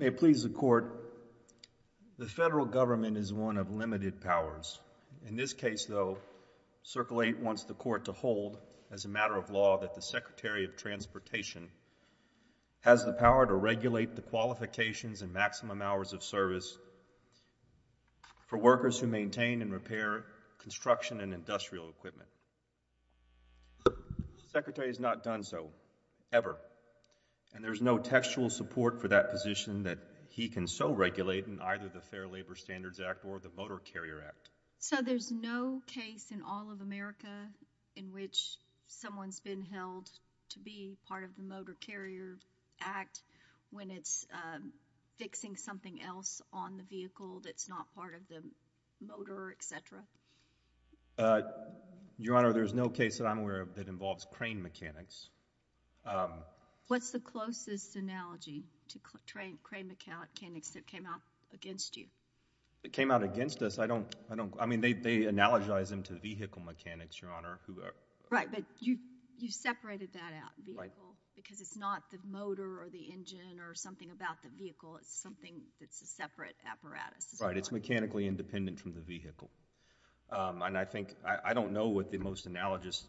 May it please the Court, the federal government is one of limited powers. In this case, though, Circle 8 wants the Court to hold, as a matter of law, that the Secretary of Transportation has the power to regulate the qualifications and maximum hours of service for workers who maintain and repair construction and industrial equipment. The Secretary has not done so, ever, and there's no textual support for that position that he can so regulate in either the Fair Labor Standards Act or the Motor Carrier Act. So there's no case in all of America in which someone's been held to be part of the Motor Carrier Act when it's fixing something else on the vehicle that's not part of the motor, etc.? Your Honor, there's no case that I'm aware of that involves crane mechanics. What's the closest analogy to crane mechanics that came out against you? It came out against us. I don't, I mean, they analogize them to vehicle mechanics, Your Honor. Right, but you separated that out, vehicle, because it's not the motor or the engine or something about the vehicle. It's something that's a separate apparatus. Right, it's mechanically independent from the vehicle. And I think, I don't know what the most analogous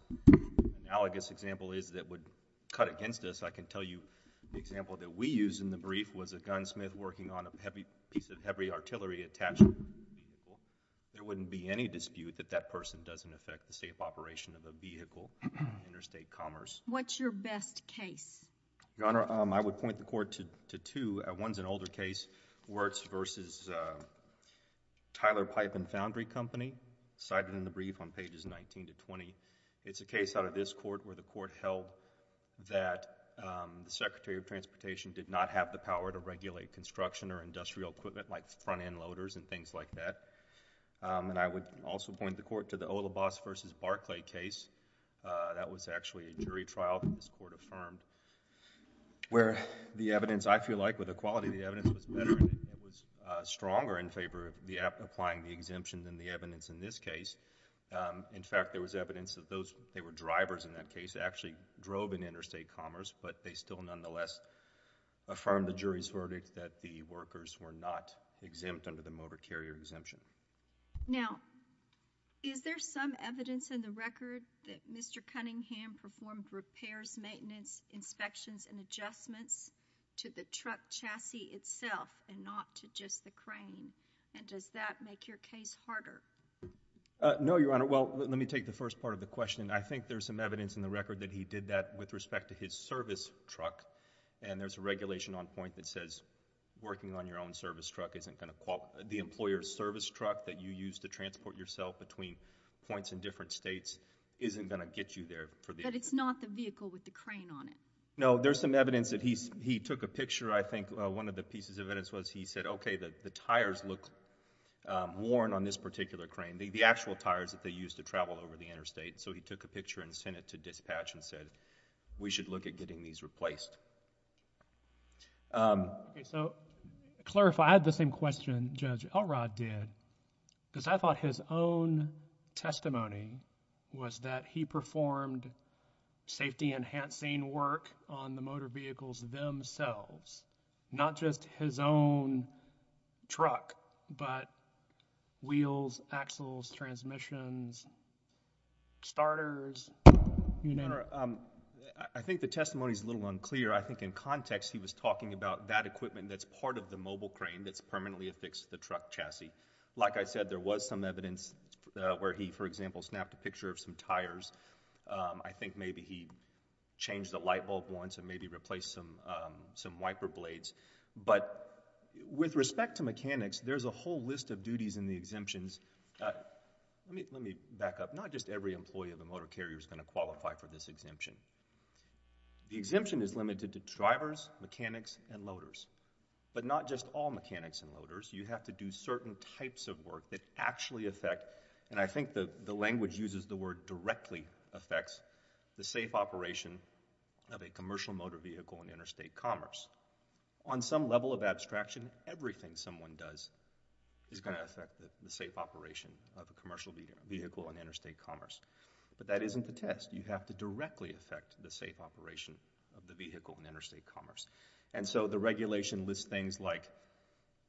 example is that would cut against us. I can tell you the example that we used in the brief was a gunsmith working on a heavy piece of heavy artillery attached to a vehicle. There wouldn't be any dispute that that person doesn't affect the safe operation of a vehicle in interstate commerce. What's your best case? Your Honor, I would point the court to two. One's an older case, Wirtz v. Tyler Pipe and Foundry Company, cited in the brief on pages 19 to 20. It's a case out of this court where the court held that the Secretary of Transportation did not have the power to regulate construction or industrial equipment like front-end loaders and things like that. And I would also point the court to the Olibas v. Barclay case. That was actually a jury trial that this court affirmed where the evidence, I feel like with the quality of the evidence, was better and it was stronger in favor of applying the exemption than the evidence in this case. In fact, there was evidence that those, they were drivers in that case, actually drove in interstate commerce, but they still nonetheless affirmed the jury's verdict that the workers were not exempt under the motor carrier exemption. Now, is there some evidence in the record that Mr. Cunningham performed repairs, maintenance, inspections and adjustments to the truck chassis itself and not to just the crane? And does that make your case harder? No, Your Honor. Well, let me take the first part of the question. I think there's some evidence in the record that he did that with respect to his service truck, and there's a regulation on point that says working on your own service truck isn't going to qualify the employer's service truck that you use to transport yourself between points in different states isn't going to get you there. But it's not the vehicle with the crane on it? No, there's some evidence that he took a picture, I think, one of the pieces of evidence was he said, okay, the tires look worn on this particular crane, the actual tires that they use to travel over the interstate. So he took a picture and sent it to dispatch and said, we should look at getting these replaced. Okay, so to clarify, I had the same question Judge Elrod did, because I thought his own testimony was that he performed safety enhancing work on the motor vehicles themselves, not just his own truck, but wheels, axles, transmissions, starters, you know? Your Honor, I think the testimony is a little unclear. I think in context he was talking about that equipment that's part of the mobile crane that's permanently affixed to the truck chassis. Like I said, there was some evidence where he, for example, snapped a picture of some tires. I think maybe he changed the light bulb once and maybe replaced some wiper blades. But with respect to mechanics, there's a whole list of duties and the exemptions. Let me back up. Not just every employee of a motor carrier is going to qualify for this exemption. The exemption is limited to drivers, mechanics, and loaders. But not just all mechanics and loaders. You have to do certain types of work that actually affect, and I think the language uses the word directly, affects the safe operation of a commercial motor vehicle in interstate commerce. On some level of abstraction, everything someone does is going to affect the safe operation of a commercial vehicle in interstate commerce. But that isn't the test. You have to directly affect the safe operation of the vehicle in interstate commerce. And so the regulation lists things like,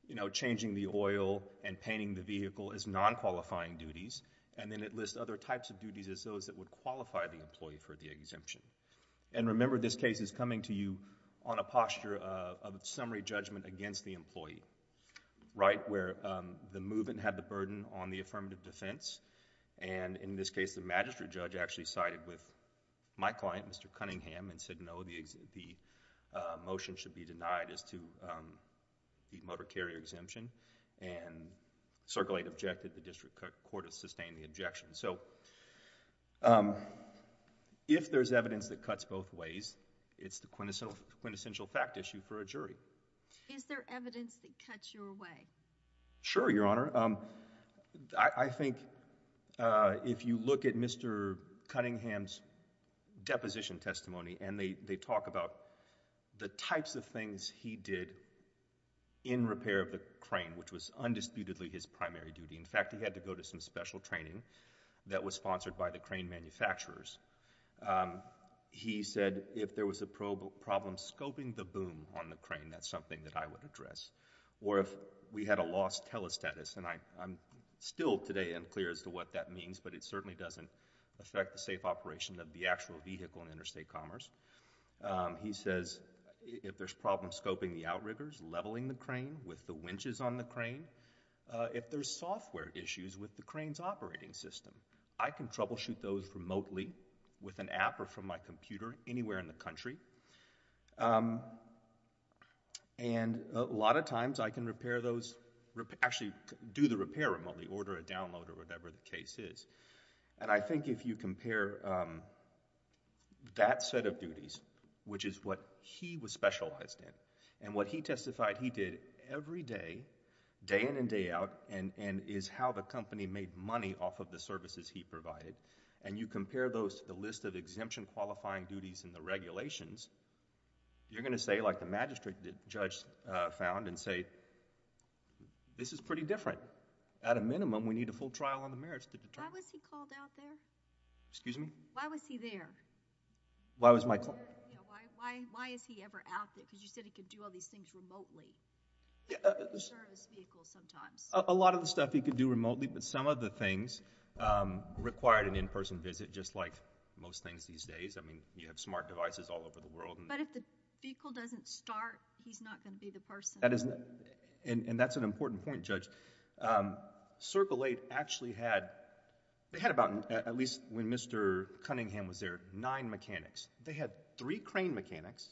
you know, changing the oil and painting the vehicle as non-qualifying duties, and then it lists other types of duties as those that would qualify the employee for the exemption. And remember, this case is coming to you on a affirmative defense. And in this case, the magistrate judge actually sided with my client, Mr. Cunningham, and said no, the motion should be denied as to the motor carrier exemption. And Circle 8 objected. The district court has sustained the objection. So, if there's evidence that cuts both ways, it's the quintessential fact issue for a jury. Is there evidence that cuts your way? Sure, Your Honor. I think if you look at Mr. Cunningham's deposition testimony, and they talk about the types of things he did in repair of the crane, which was undisputedly his primary duty. In fact, he had to go to some special training that was sponsored by the crane manufacturers. He said if there was a problem scoping the boom on the crane, that's something that I would address. Or if we had a lost telestatus, and I'm still today unclear as to what that means, but it certainly doesn't affect the safe operation of the actual vehicle in interstate commerce. He says if there's problems scoping the outriggers, leveling the crane with the winches on the crane, if there's software issues with the crane's operating system, I can troubleshoot those remotely with an app or from my computer anywhere in the country. And a lot of times, I can repair those... actually do the repair remotely, order a download or whatever the case is. And I think if you compare that set of duties, which is what he was specialized in, and what he testified he did every day, day in and day out, and is how the company made money off of the services he provided, and you compare those to the list of exemption qualifying duties in the regulations, you're going to say, like the magistrate judge found and say, this is pretty different. At a minimum, we need a full trial on the merits to determine... Why was he called out there? Excuse me? Why was he there? Why was my... Why is he ever out there? Because you said he could do all these things remotely. Service vehicles sometimes. A lot of the stuff he could do remotely, but some of the things required an in-person visit, just like most things these days. I mean, you have smart devices all over the world. But if the vehicle doesn't start, he's not going to be the person. That is... and that's an important point, Judge. Circle Eight actually had, they had about, at least when Mr. Cunningham was there, nine mechanics. They had three crane mechanics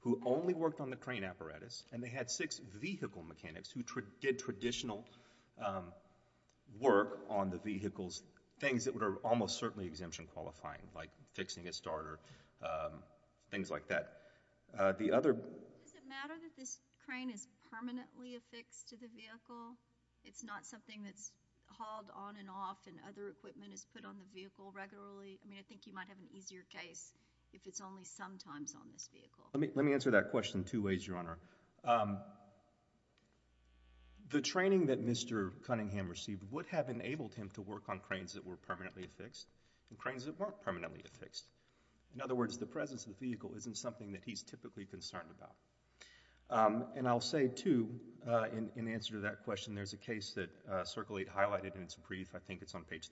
who only worked on the crane apparatus, and they had six vehicle mechanics who did traditional work on the vehicles, things that are almost certainly exemption-qualifying, like fixing a starter, things like that. The other... Does it matter that this crane is permanently affixed to the vehicle? It's not something that's hauled on and off and other equipment is put on the vehicle regularly? I mean, I think you might have an easier case if it's only sometimes on this vehicle. Let me answer that question two ways, Your Honor. The training that Mr. Cunningham received would have enabled him to work on cranes that were permanently affixed and cranes that weren't permanently affixed. In other words, the presence of the vehicle isn't something that he's typically concerned about. And I'll say, too, in answer to that question, there's a case that Circle Eight highlighted, and it's a brief. I think it's on 10th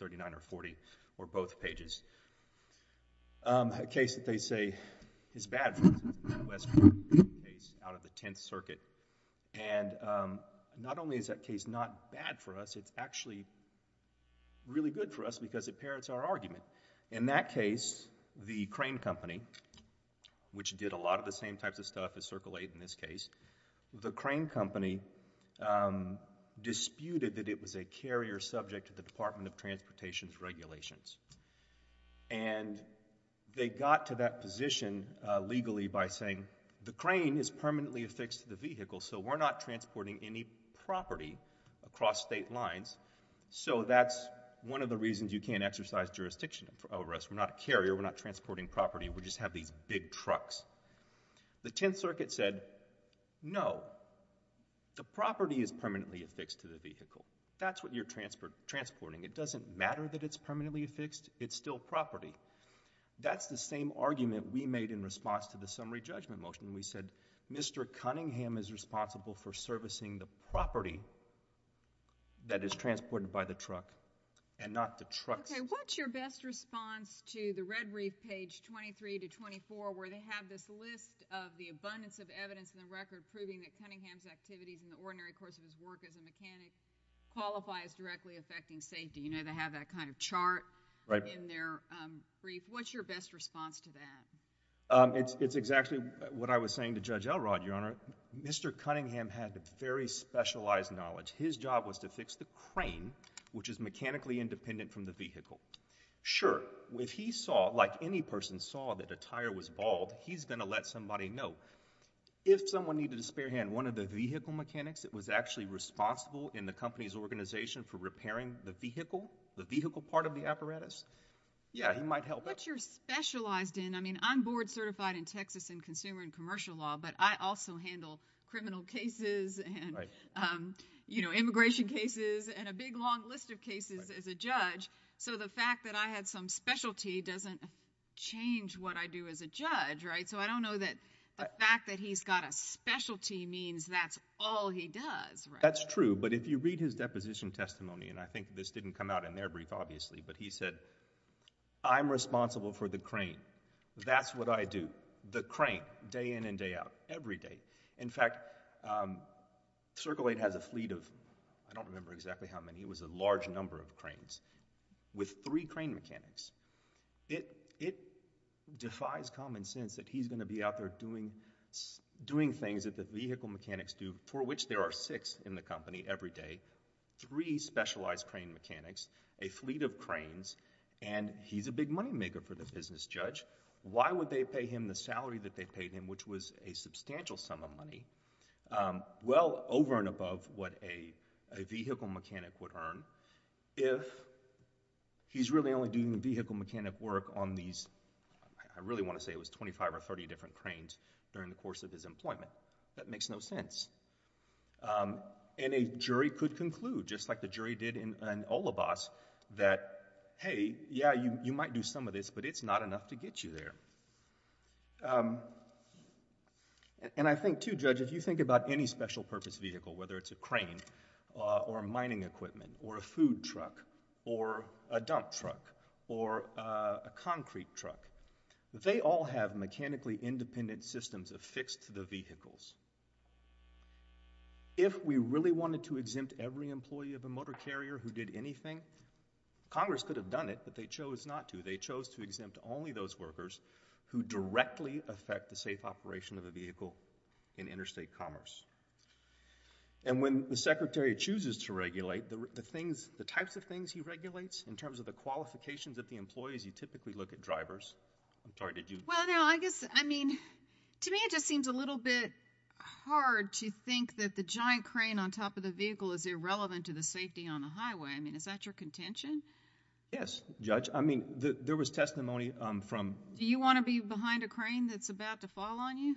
Circuit. And not only is that case not bad for us, it's actually really good for us because it parrots our argument. In that case, the crane company, which did a lot of the same types of stuff as Circle Eight in this case, the crane company disputed that it was a carrier subject to the Department of Transportation's regulations. And they got to that position legally by saying, the crane is permanently affixed to the vehicle, so we're not transporting any property across state lines. So that's one of the reasons you can't exercise jurisdiction over us. We're not a carrier. We're not transporting property. We just have these big trucks. The 10th Circuit said, no, the property is permanently affixed to the vehicle. That's what you're transporting. It doesn't matter that it's permanently affixed. It's still property. That's the same argument we made in response to the summary judgment motion. We said, Mr. Cunningham is responsible for servicing the property that is transported by the truck, and not the truck's. Okay. What's your best response to the red brief page 23 to 24, where they have this list of the abundance of evidence in the record proving that Cunningham's activities in the ordinary course of his work as a mechanic qualifies directly affecting safety? You know, they have that kind of chart in their brief. What's your best response to that? It's exactly what I was saying to Judge Elrod, Your Honor. Mr. Cunningham had very specialized knowledge. His job was to fix the crane, which is mechanically independent from the vehicle. Sure, if he saw, like any person saw, that a tire was bald, he's going to let somebody know. If someone needed a spare hand, one of the vehicle mechanics that was actually responsible in the company's organization for repairing the vehicle, the vehicle part of the apparatus, yeah, he might help out. What's your specialized in? I mean, I'm board certified in Texas in consumer and commercial law, but I also handle criminal cases and, you know, immigration cases and a big long list of cases as a judge, so the fact that I had some specialty doesn't change what I do as a judge, right? So I don't know that the fact that he's got a specialty means that's all he does, right? That's true, but if you read his deposition testimony, and I think this didn't come out in their brief, obviously, but he said, I'm responsible for the crane. That's what I do. The crane, day in and day out, every day. In fact, Circle 8 has a fleet of, I don't remember exactly how many, it was a large number of cranes with three crane mechanics. It defies common sense that he's going to be out there doing things that the vehicle mechanics do, for which there are six in the company every day, three specialized crane mechanics, a fleet of cranes, and he's a big money maker for the business judge. Why would they pay him the salary that they paid him, which was a substantial sum of money, well over and above what a vehicle mechanic would earn if he's really only doing the vehicle mechanic work on these, I really want to say it was 25 or 30 different cranes during the course of his employment. That makes no sense, and a jury could conclude, just like the jury did in Olibas, that, hey, yeah, you might do some of this, but it's not enough to get you there, and I think, too, Judge, if you think about any special purpose vehicle, whether it's a crane or mining equipment or a food truck or a dump truck or a concrete truck, they all have mechanically independent systems affixed to the vehicles. If we really wanted to exempt every employee of a motor carrier who did anything, Congress could have done it, but they chose not to. They chose to exempt only those workers who directly affect the safe operation of a vehicle in interstate commerce, and when the Secretary chooses to regulate, the things, the types of things he regulates, in terms of the qualifications of the employees, you typically look at drivers. I'm sorry, did you? Well, no, I guess, I mean, to me it just seems a little bit hard to think that the giant crane on top of the vehicle is irrelevant to the safety on the highway. I mean, is that your contention? Yes, Judge. I mean, there was testimony from Do you want to be behind a crane that's about to fall on you?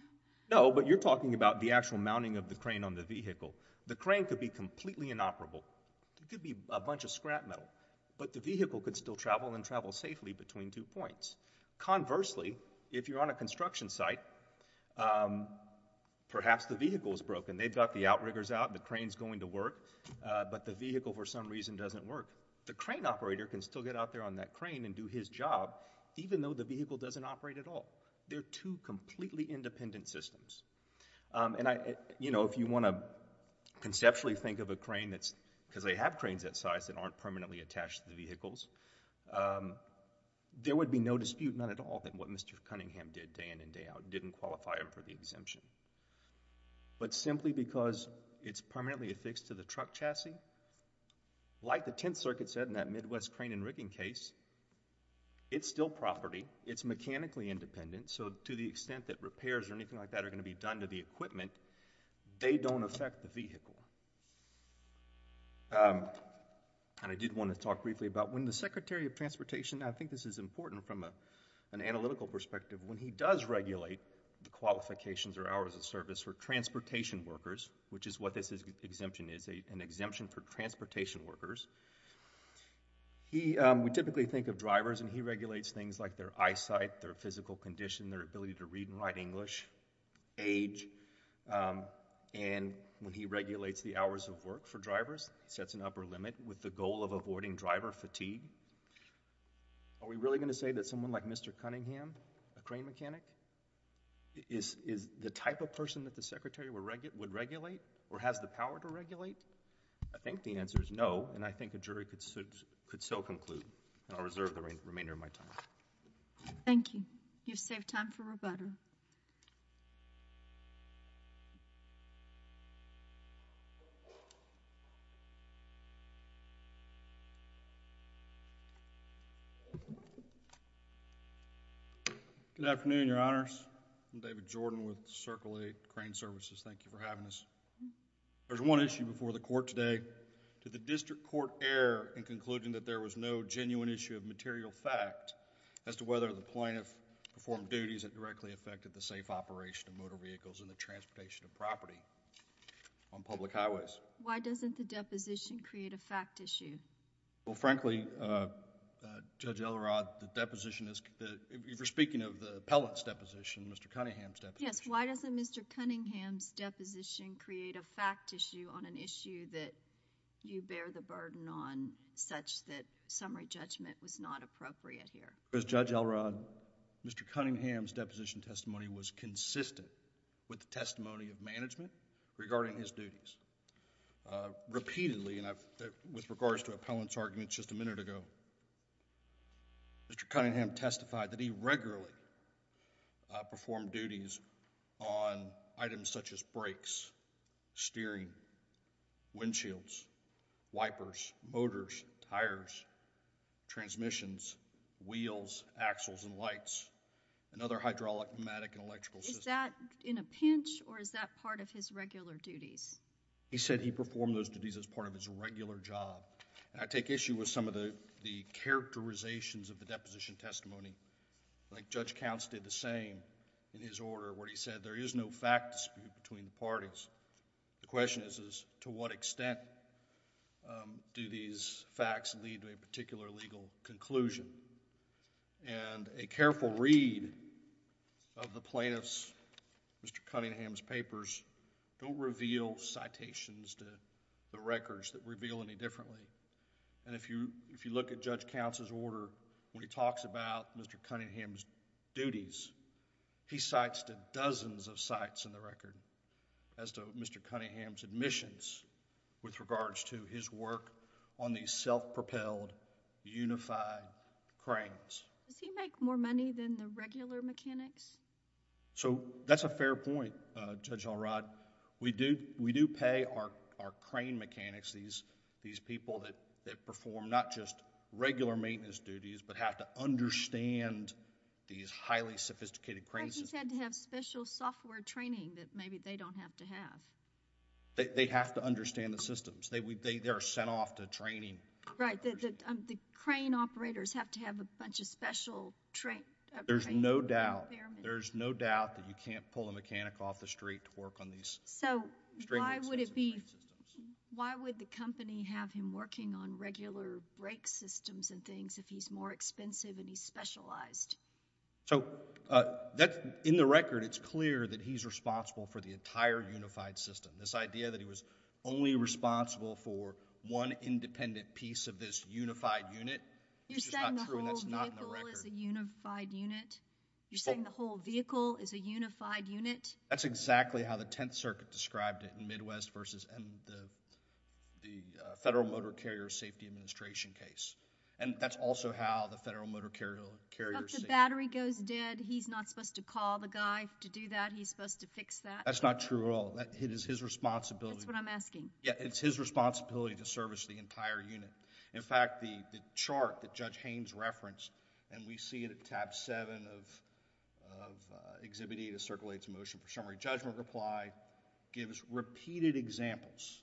No, but you're talking about the actual mounting of the crane on the vehicle. The crane could be completely inoperable. It could be a bunch of scrap metal, but the vehicle could still travel and travel safely between two points. Conversely, if you're on a construction site, perhaps the vehicle is broken. They've got the outriggers out, the crane's going to work, but the vehicle, for some reason, doesn't work. The crane operator can still get out there on that crane and do his job, even though the vehicle doesn't operate at all. They're two completely independent systems, and I, you know, if you want to conceptually think of a crane that's, because they have cranes that size that aren't permanently attached to the vehicles, there would be no dispute, not at all, that what Mr. Cunningham did day in and day out didn't qualify him for the exemption, but simply because it's permanently affixed to the truck chassis, like the 10th Circuit said in that Midwest crane and rigging case, it's still property. It's mechanically independent, so to the extent that repairs or anything like that are going to be done to the equipment, they don't affect the vehicle. And I did want to talk briefly about when the Secretary of Transportation, I think this is important from an analytical perspective, when he does regulate the qualifications or hours of service for transportation workers, which is what this exemption is, an exemption for transportation workers, he, we typically think of drivers, and he regulates things like their eyesight, their physical condition, their ability to read and write English, age, and when he regulates the hours of work for drivers, it sets an upper limit with the goal of avoiding driver fatigue. Are we really going to say that someone like Mr. Cunningham, a crane mechanic, is the type of person that the Secretary would regulate or has the power to regulate? I think the answer is no, and I think a jury could so conclude, and I'll reserve the remainder of my time. Thank you. You've saved time for rebuttal. Good afternoon, Your Honors. I'm David Jordan with Circle 8 Crane Services. Thank you for having us. There's one issue before the Court today. Did the District Court err in concluding that there was no genuine issue of material fact as to whether the plaintiff performed duties that directly affected the safe operation of motor vehicles and the transportation of property on public highways? Why doesn't the deposition create a fact issue? Well, frankly, Judge Elrod, the deposition is, if you're speaking of the appellate's deposition, Mr. Cunningham's deposition. Yes, why doesn't Mr. Cunningham's deposition create a fact issue on an issue that you bear the burden on such that summary judgment was not appropriate here? Judge Elrod, Mr. Cunningham's deposition testimony was consistent with the testimony of management regarding his duties. Repeatedly, and with regards to appellant's argument just a minute ago, Mr. Cunningham testified that he regularly performed duties on items such as brakes, steering, windshields, wipers, motors, tires, transmissions, wheels, axles, and lights, and other hydraulic, pneumatic, and electrical systems. Is that in a pinch or is that part of his regular duties? He said he performed those duties as part of his regular job. And I take issue with some of the characterizations of the deposition testimony. Like Judge Counts did the same in his order where he said there is no fact dispute between the parties. The question is, to what extent do these facts lead to a particular legal conclusion? And a careful read of the plaintiff's, Mr. Cunningham's papers don't reveal citations to the records that reveal any differently. And if you look at Judge Counts' order, when he talks about Mr. Cunningham's duties, he cites to dozens of sites in the record as to Mr. Cunningham's admissions with regards to his work on these self-propelled, unified cranes. Does he make more money than the regular mechanics? So, that's a fair point, Judge Alrod. We do pay our crane mechanics, these people that perform not just regular maintenance duties but have to understand these highly sophisticated crane systems. But he said to have special software training that maybe they don't have to have. They have to understand the systems. They are sent off to training. Right. The crane operators have to have a bunch of special training. There's no doubt. There's no doubt that you can't pull a mechanic off the street to work on these. So, why would it be, why would the company have him working on regular brake systems and things if he's more expensive and he's specialized? So, in the record, it's clear that he's responsible for the entire unified system. This idea that he was only responsible for one independent piece of this unified unit. You're saying the whole vehicle is a unified unit? You're saying the whole vehicle is a unified unit? That's exactly how the Tenth Circuit described it in Midwest versus the Federal Motor Carrier Safety Administration case. And that's also how the Federal Motor Carrier Safety... But the battery goes dead. He's not supposed to call the guy to do that? He's supposed to fix that? That's not true at all. It is his responsibility. That's what I'm asking. Yeah, it's his responsibility to service the entire unit. In fact, the chart that Judge Haynes referenced, and we see it at tab seven of Exhibit E that circulates in motion for summary judgment reply, gives repeated examples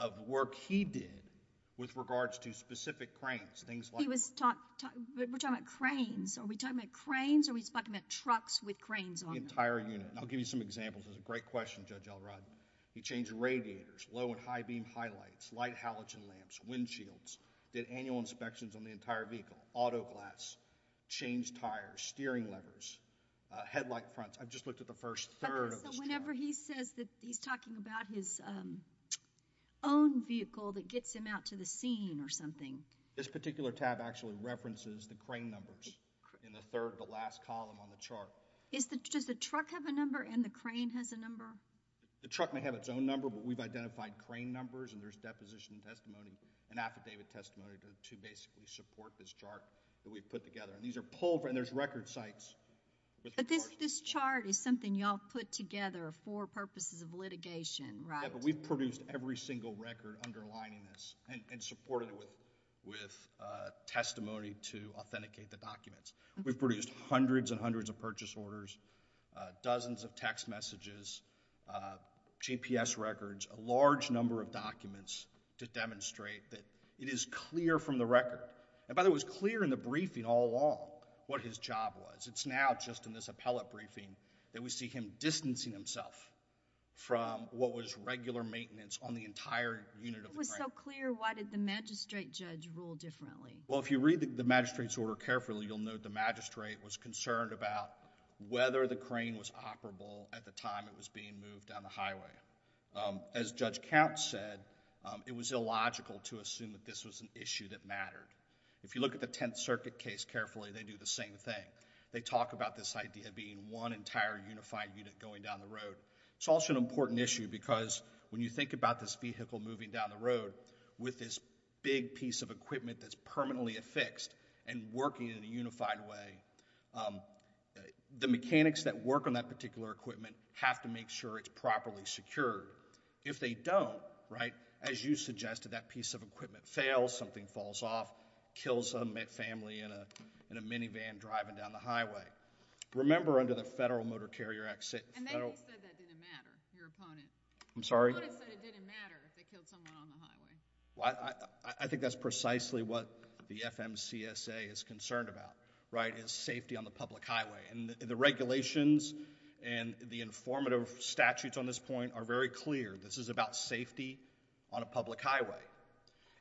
of work he did with regards to specific cranes, things like... He was talking... We're talking about cranes. Are we talking about cranes or are we talking about trucks with cranes on them? The entire unit. And I'll give you some examples. It's a great question, Judge Elrod. He changed radiators, low and high beam highlights, light halogen lamps, windshields, did annual inspections on the entire vehicle, auto glass, changed tires, steering levers, headlight fronts. I've just looked at the first third of this chart. Whenever he says that he's talking about his own vehicle that gets him out to the scene or something... This particular tab actually references the crane numbers in the third, the last column on the chart. Does the truck have a number and the crane has a number? The truck may have its own number, but we've identified crane numbers and there's deposition testimony and affidavit testimony to basically support this chart that we've put together. There's record sites. This chart is something y'all put together for purposes of litigation, right? But we've produced every single record underlining this and supported it with testimony to authenticate the documents. We've produced hundreds and hundreds of purchase orders, dozens of text messages, GPS records, a large number of documents to demonstrate that it is clear from the record. And by the way, it was clear in the briefing all along what his job was. It's now just in this appellate briefing that we see him distancing himself from what was regular maintenance on the entire unit of the crane. It was so clear, why did the magistrate judge rule differently? Well, if you read the magistrate's order carefully, you'll note the magistrate was concerned about whether the crane was operable at the time it was being moved down the highway. As Judge Count said, it was illogical to assume that this was an issue that mattered. If you look at the Tenth Circuit case carefully, they do the same thing. They talk about this idea being one entire unified unit going down the road. It's also an important issue because when you think about this vehicle moving down the road with this big piece of equipment that's permanently affixed and working in a unified way, the mechanics that work on that particular equipment have to make sure it's properly secured. If they don't, right, as you suggested, that piece of equipment fails, something falls off, kills a family in a minivan driving down the highway. Remember under the Federal Motor Carrier Act... And then you said that didn't matter, your opponent. I'm sorry? Your opponent said it didn't matter if they killed someone on the highway. Well, I think that's precisely what the FMCSA is concerned about, right, is safety on the public highway. And the regulations and the informative statutes on this point are very clear. This is about safety on a public highway.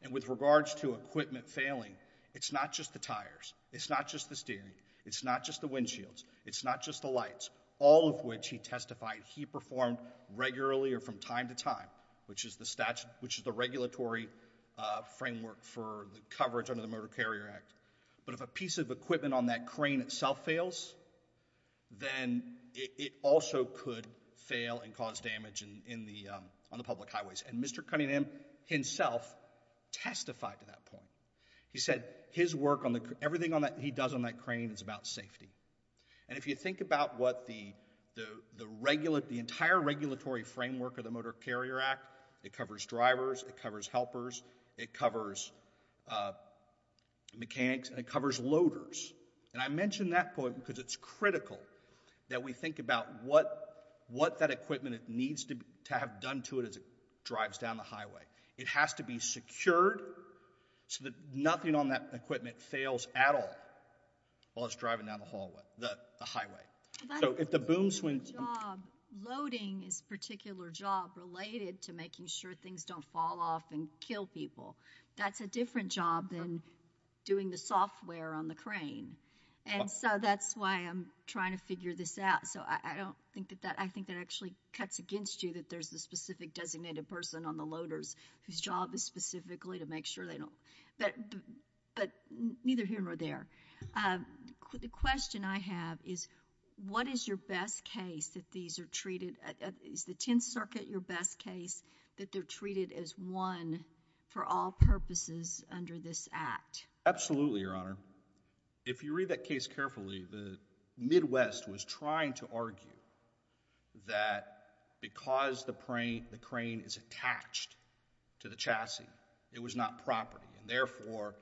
And with regards to equipment failing, it's not just the tires. It's not just the steering. It's not just the windshields. It's not just the lights, all of which he testified he performed regularly or from time to time, which is the regulatory framework for the coverage under the Motor Carrier Act. But if a piece of equipment on that crane itself fails, then it also could fail and cause damage on the public highways. And Mr. Cunningham himself testified to that point. He said everything he does on that crane is about safety. And if you think about what the entire regulatory framework of the Motor Carrier Act, it covers drivers, it covers helpers, it covers mechanics, and it covers loaders. And I mention that point because it's critical that we think about what that equipment needs to have done to it as it drives down the highway. It has to be secured so that nothing on that equipment fails at all while it's driving down the hallway, the highway. So if the boom swings— But loading is a particular job related to making sure things don't fall off and kill people. That's a different job than doing the software on the crane. And so that's why I'm trying to figure this out. So I don't think that that—I think that actually cuts against you that there's a specific designated person on the loaders whose job is specifically to make sure they don't—but neither here nor there. The question I have is, what is your best case that these are treated—is the 10th Circuit your best case that they're treated as one for all purposes under this act? Absolutely, Your Honor. If you read that case carefully, the Midwest was trying to argue that because the crane is attached to the chassis, it was not property. And therefore,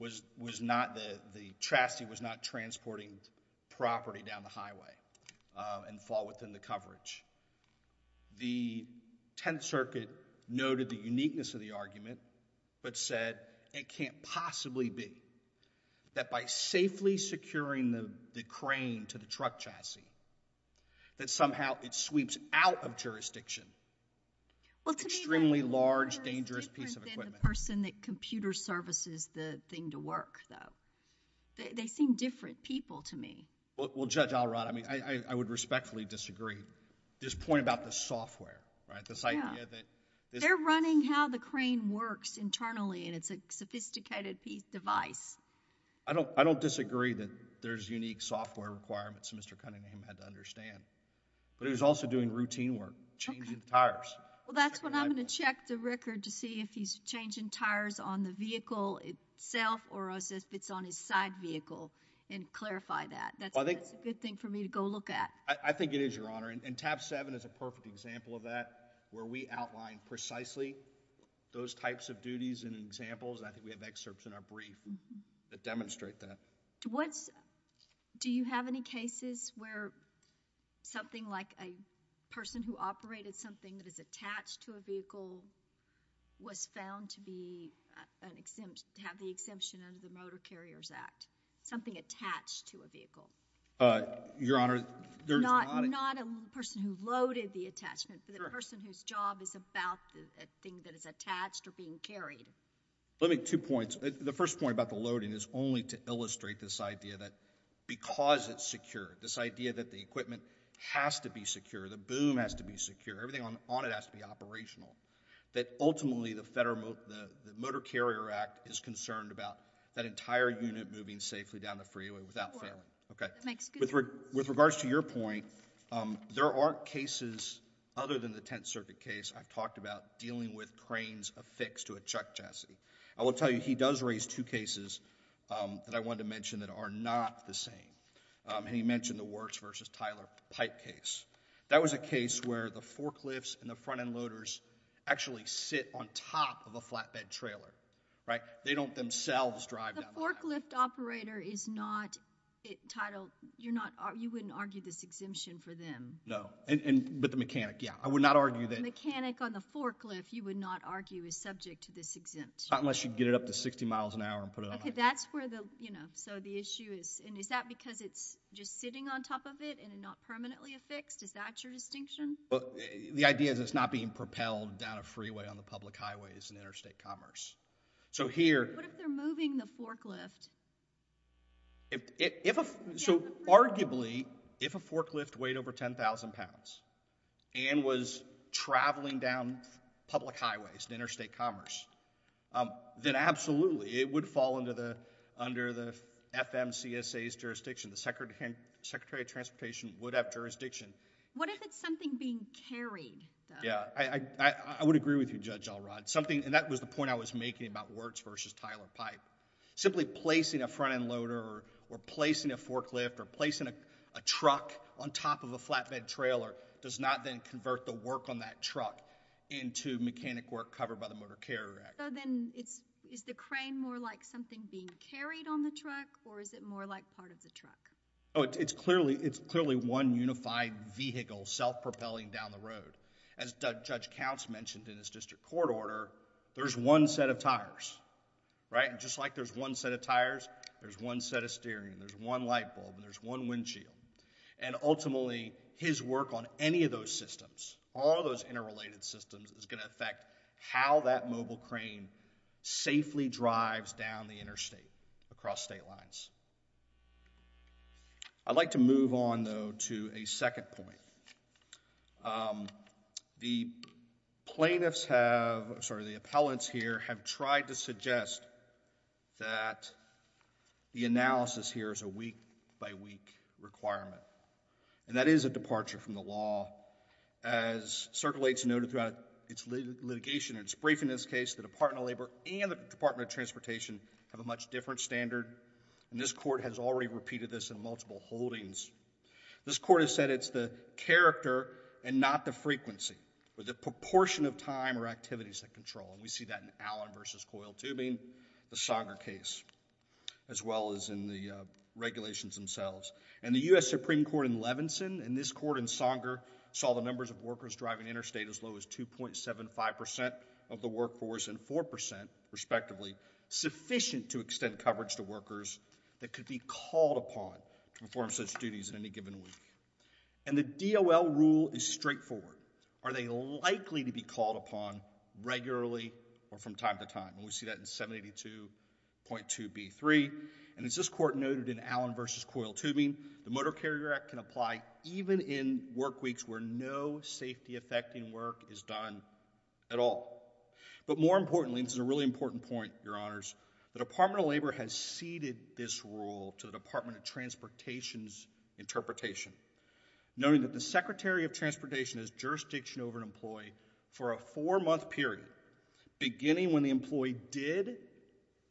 the chassis was not transporting property down the highway and fall within the coverage. The 10th Circuit noted the uniqueness of the argument but said it can't possibly be. That by safely securing the crane to the truck chassis, that somehow it sweeps out of jurisdiction. Well, to me— Extremely large, dangerous piece of equipment. —the person that computer services the thing to work, though. They seem different people to me. Well, Judge Alrod, I mean, I would respectfully disagree. This point about the software, right? This idea that— They're running how the crane works internally and it's a sophisticated piece—device. I don't disagree that there's unique software requirements that Mr. Cunningham had to understand. But he was also doing routine work, changing the tires. Well, that's what I'm going to check the record to see if he's changing tires on the vehicle itself or if it's on his side vehicle and clarify that. That's a good thing for me to go look at. I think it is, Your Honor. And tab 7 is a perfect example of that where we outline precisely those types of duties and examples. I think we have excerpts in our brief that demonstrate that. Do you have any cases where something like a person who operated something that is attached to a vehicle was found to have the exemption under the Motor Carriers Act, something attached to a vehicle? Your Honor, there's not a— Not a person who loaded the attachment, but a person whose job is about the thing that is attached or being carried. Let me make two points. The first point about the loading is only to illustrate this idea that because it's secure, this idea that the equipment has to be secure, the boom has to be secure, everything on it has to be operational, that ultimately the Motor Carrier Act is concerned about that entire unit moving safely down the freeway without fail. Okay. With regards to your point, there are cases other than the Tenth Circuit case I've talked about dealing with cranes affixed to a chuck chassis. I will tell you, he does raise two cases that I wanted to mention that are not the same. He mentioned the Works v. Tyler pipe case. That was a case where the forklifts and the front-end loaders actually sit on top of a flatbed trailer, right? They don't themselves drive down— The forklift operator is not titled—you wouldn't argue this exemption for them? No, but the mechanic, yeah. I would not argue that— The mechanic on the forklift, you would not argue, is subject to this exemption? Not unless you get it up to 60 miles an hour and put it on— Okay, that's where the, you know, so the issue is, and is that because it's just sitting on top of it and not permanently affixed? Is that your distinction? Well, the idea is it's not being propelled down a freeway on the public highways in interstate commerce. So here— What if they're moving the forklift? If a—so arguably, if a forklift weighed over 10,000 pounds and was traveling down public highways in interstate commerce, then absolutely, it would fall under the FMCSA's jurisdiction. The Secretary of Transportation would have jurisdiction. What if it's something being carried, though? Yeah, I would agree with you, Judge Alrod. Something—and that was the point I was making about Works v. Tyler pipe. Simply placing a front-end loader or placing a forklift or placing a truck on top of a flatbed trailer does not then convert the work on that truck into mechanic work covered by the Motor Carrier Act. So then, it's—is the crane more like something being carried on the truck, or is it more like part of the truck? Oh, it's clearly one unified vehicle self-propelling down the road. As Judge Counts mentioned in his district court order, there's one set of tires, right? Just like there's one set of tires, there's one set of steering, there's one light bulb, and there's one windshield. And ultimately, his work on any of those systems, all of those interrelated systems, is going to affect how that mobile crane safely drives down the interstate across state lines. I'd like to move on, though, to a second point. Um, the plaintiffs have—sorry, the appellants here have tried to suggest that the analysis here is a week-by-week requirement, and that is a departure from the law. As circulates noted throughout its litigation and its briefing in this case, the Department of Labor and the Department of Transportation have a much different standard, and this court has already repeated this in multiple holdings. This court has said it's the character and not the frequency, or the proportion of time or activities that control. And we see that in Allen v. Coil Tubing, the Sanger case, as well as in the regulations themselves. And the U.S. Supreme Court in Levinson and this court in Sanger saw the numbers of workers driving interstate as low as 2.75% of the workforce and 4%, respectively, sufficient to extend coverage to workers that could be called upon to perform such duties in any given week. And the DOL rule is straightforward. Are they likely to be called upon regularly or from time to time? And we see that in 782.2b3. And as this court noted in Allen v. Coil Tubing, the Motor Carrier Act can apply even in work weeks where no safety-affecting work is done at all. But more importantly, this is a really important point, Your Honors, the Department of Labor has ceded this rule to the Department of Transportation's interpretation, noting that the Secretary of Transportation has jurisdiction over an employee for a four-month period, beginning when the employee did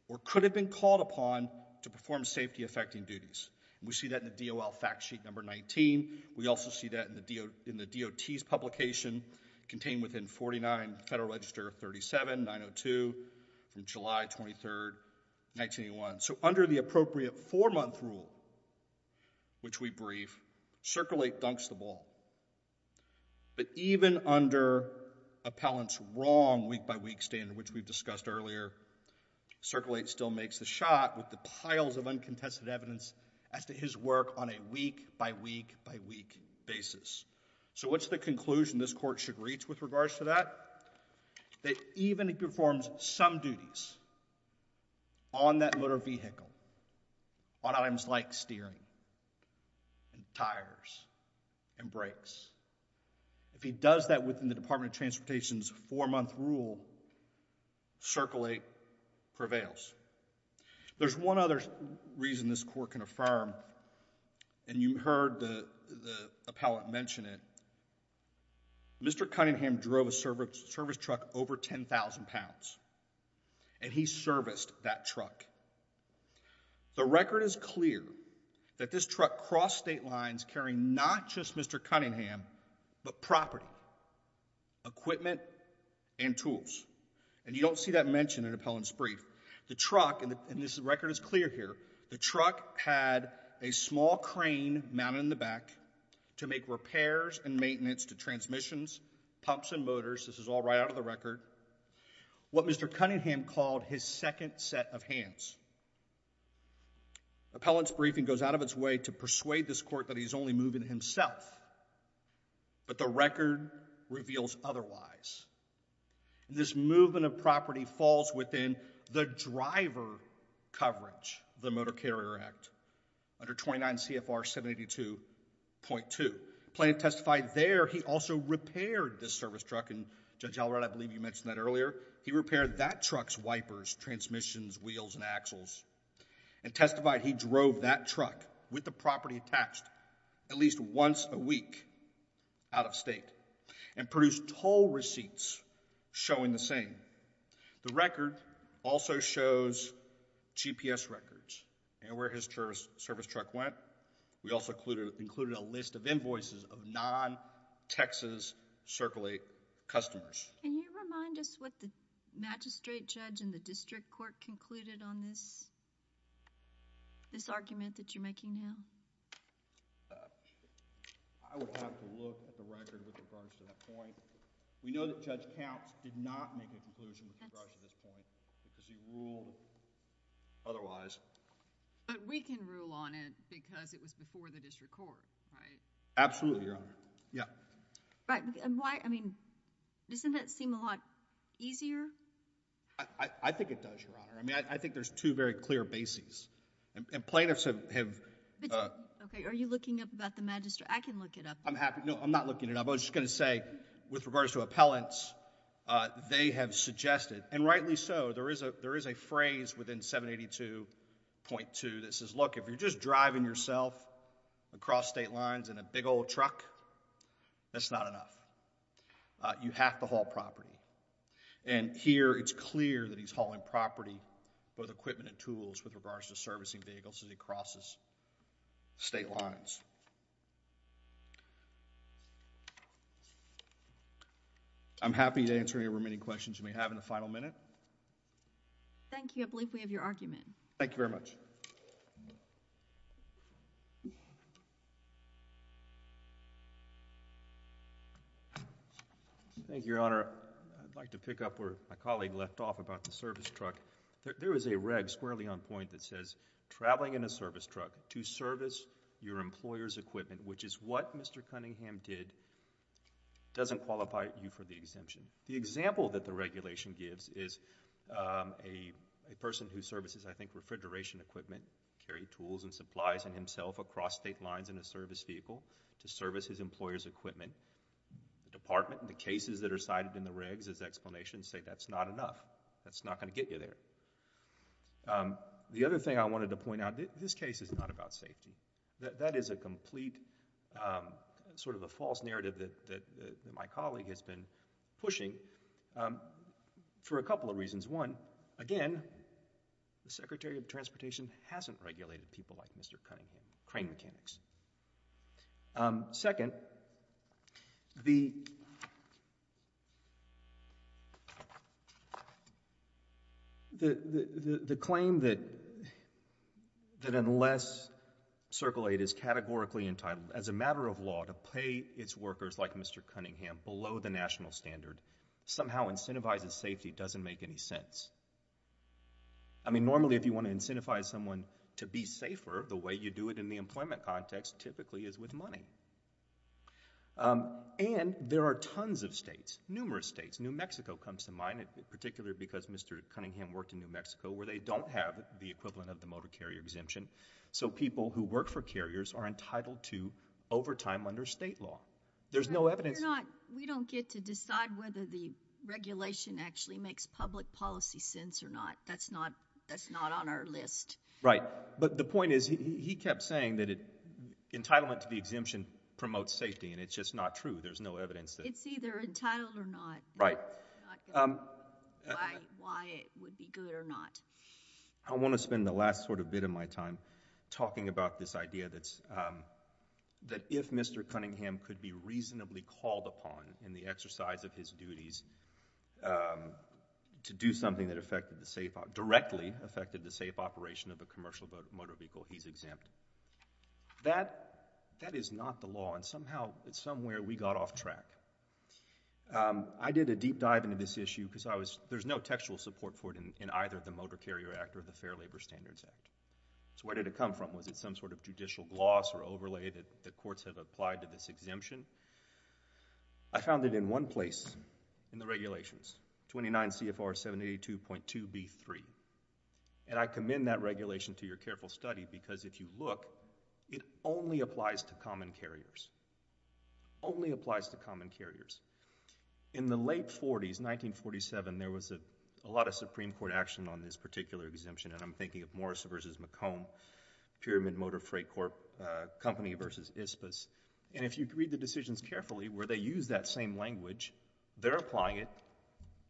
or could have been called upon to perform safety-affecting duties. We see that in the DOL fact sheet number 19. We also see that in the DOT's publication contained within 49 Federal Register 37-902 from July 23, 1981. So under the appropriate four-month rule, which we brief, Circle 8 dunks the ball. But even under Appellant's wrong week-by-week standard, which we've discussed earlier, Circle 8 still makes the shot with the piles of uncontested evidence as to his work on a week-by-week-by-week basis. So what's the conclusion this court should reach with regards to that? That even if he performs some duties on that motor vehicle, on items like steering and tires and brakes, if he does that within the Department of Transportation's four-month rule, Circle 8 prevails. There's one other reason this court can affirm, and you heard the appellant mention it. Mr. Cunningham drove a service truck over 10,000 pounds, and he serviced that truck. The record is clear that this truck crossed state lines carrying not just Mr. Cunningham, but property, equipment, and tools. And you don't see that mentioned in Appellant's brief. The truck, and this record is clear here, the truck had a small crane mounted in the back to make repairs and maintenance to transmissions, pumps, and motors. This is all right out of the record. What Mr. Cunningham called his second set of hands. Appellant's briefing goes out of its way to persuade this court that he's only moving himself, but the record reveals otherwise. And this movement of property falls within the driver coverage of the Motor Carrier Act under 29 CFR 782.2. Appellant testified there he also repaired this service truck, and Judge Allred, I believe you mentioned that earlier. He repaired that truck's wipers, transmissions, wheels, and axles. And testified he drove that truck with the property attached at least once a week out of state, and produced toll receipts showing the same. The record also shows GPS records and where his service truck went. We also included a list of invoices of non-Texas Circulate customers. Can you remind us what the magistrate judge in the district court concluded on this argument that you're making now? I would have to look at the record with regards to that point. We know that Judge Counts did not make a conclusion with regards to this point because he ruled otherwise. But we can rule on it because it was before the district court, right? Absolutely, Your Honor. Yeah. Right, and why, I mean, doesn't that seem a lot easier? I think it does, Your Honor. I mean, I think there's two very clear bases. And plaintiffs have... Okay, are you looking up about the magistrate? I can look it up. I'm happy. No, I'm not looking it up. I was just going to say with regards to appellants, they have suggested, and rightly so, there is a phrase within 782.2 that says, look, if you're just driving yourself across state lines in a big old truck, that's not enough. You have to haul property. And here, it's clear that he's hauling property, both equipment and tools, with regards to servicing vehicles as he crosses state lines. I'm happy to answer any remaining questions you may have in the final minute. Thank you. I believe we have your argument. Thank you very much. Thank you, Your Honor. I'd like to pick up where my colleague left off about the service truck. There is a reg squarely on point that says, traveling in a service truck to service your employer's equipment, which is what Mr. Cunningham did, doesn't qualify you for the exemption. The example that the regulation gives is a person who services, I think, refrigeration equipment, carry tools and supplies in himself across state lines in a service vehicle to service his employer's equipment. The department, the cases that are cited in the regs as explanations say that's not enough. That's not going to get you there. The other thing I wanted to point out, this case is not about safety. That is a complete, sort of a false narrative that my colleague has been pushing for a couple of reasons. Again, the Secretary of Transportation hasn't regulated people like Mr. Cunningham, crane mechanics. Second, the claim that unless Circle 8 is categorically entitled as a matter of law to pay its workers like Mr. Cunningham below the national standard, somehow incentivizes safety doesn't make any sense. I mean, normally if you want to incentivize someone to be safer, the way you do it in the employment context typically is with money. And there are tons of states, numerous states. New Mexico comes to mind, particularly because Mr. Cunningham worked in New Mexico where they don't have the equivalent of the motor carrier exemption, so people who work for carriers are entitled to overtime under state law. There's no evidence. We don't get to decide whether the regulation actually makes public policy sense or not. That's not on our list. Right, but the point is he kept saying that entitlement to the exemption promotes safety and it's just not true. There's no evidence. It's either entitled or not. Right. I want to spend the last sort of bit of my time talking about this idea that if Mr. Cunningham is actually called upon in the exercise of his duties to do something that affected the safe—directly affected the safe operation of a commercial motor vehicle, he's exempt. That, that is not the law and somehow it's somewhere we got off track. I did a deep dive into this issue because I was—there's no textual support for it in either the Motor Carrier Act or the Fair Labor Standards Act. So where did it come from? Was it some sort of judicial gloss or overlay that the courts have applied to this exemption? I found it in one place in the regulations, 29 CFR 782.2b3, and I commend that regulation to your careful study because if you look, it only applies to common carriers. Only applies to common carriers. In the late 40s, 1947, there was a lot of Supreme Court action on this particular exemption and I'm thinking of Morris v. McComb, Pyramid Motor Freight Corp., Company v. Ispas, and if you read the decisions carefully where they use that same language, they're applying it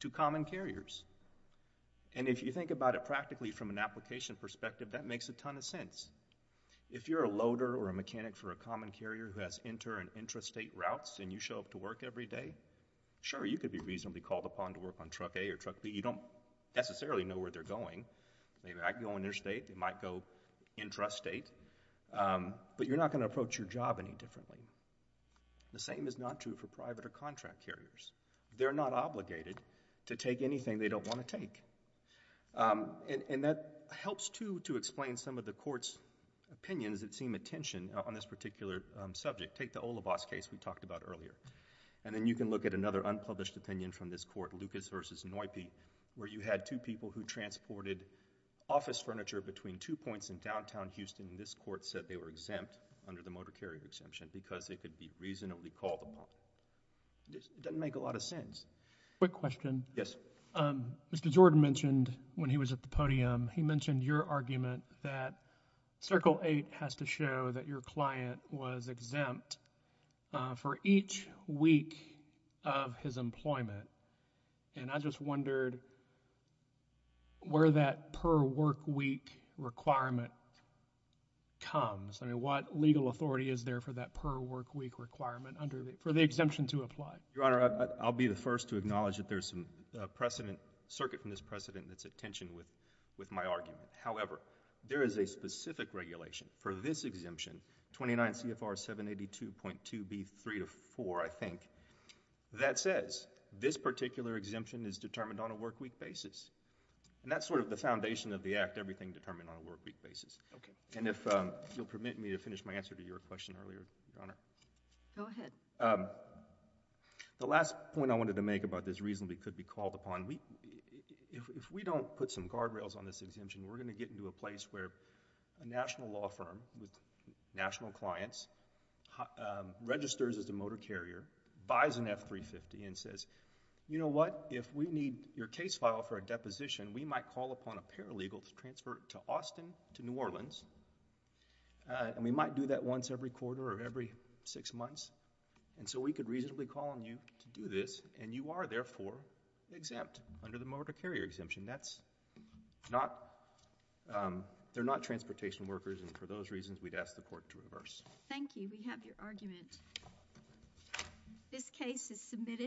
to common carriers. And if you think about it practically from an application perspective, that makes a ton of sense. If you're a loader or a mechanic for a common carrier who has inter- and intrastate routes and you show up to work every day, sure, you could be reasonably called upon to work on truck A or truck B. You don't necessarily know where they're going. They might go interstate. They might go intrastate. But you're not going to approach your job any differently. The same is not true for private or contract carriers. They're not obligated to take anything they don't want to take. And that helps, too, to explain some of the Court's opinions that seem a tension on this particular subject. Take the Olibas case we talked about earlier, and then you can look at another unpublished opinion from this Court, Lucas v. Noype, where you had two people who transported office court said they were exempt under the motor carrier exemption because they could be reasonably called upon. It doesn't make a lot of sense. Quick question. Yes. Mr. Jordan mentioned when he was at the podium, he mentioned your argument that Circle VIII has to show that your client was exempt for each week of his employment. And I just wondered where that per-work-week requirement comes. I mean, what legal authority is there for that per-work-week requirement for the exemption to apply? Your Honor, I'll be the first to acknowledge that there's a precedent, a circuit in this precedent that's at tension with my argument. However, there is a specific regulation for this exemption, 29 CFR 782.2b.3-4, I think, that says this particular exemption is determined on a work-week basis. And that's sort of the foundation of the Act, everything determined on a work-week basis. Okay. And if you'll permit me to finish my answer to your question earlier, Your Honor. Go ahead. The last point I wanted to make about this reasonably could be called upon, if we don't put some guardrails on this exemption, we're going to get into a place where a national law firm with national clients registers as a motor carrier, buys an F-350 and says, you know what, if we need your case file for a deposition, we might call upon a paralegal to transfer it to Austin, to New Orleans, and we might do that once every quarter or every six months. And so we could reasonably call on you to do this, and you are therefore exempt under the motor carrier exemption. That's not, they're not transportation workers, and for those reasons, we'd ask the Court to reverse. Thank you. We have your argument. This case is submitted.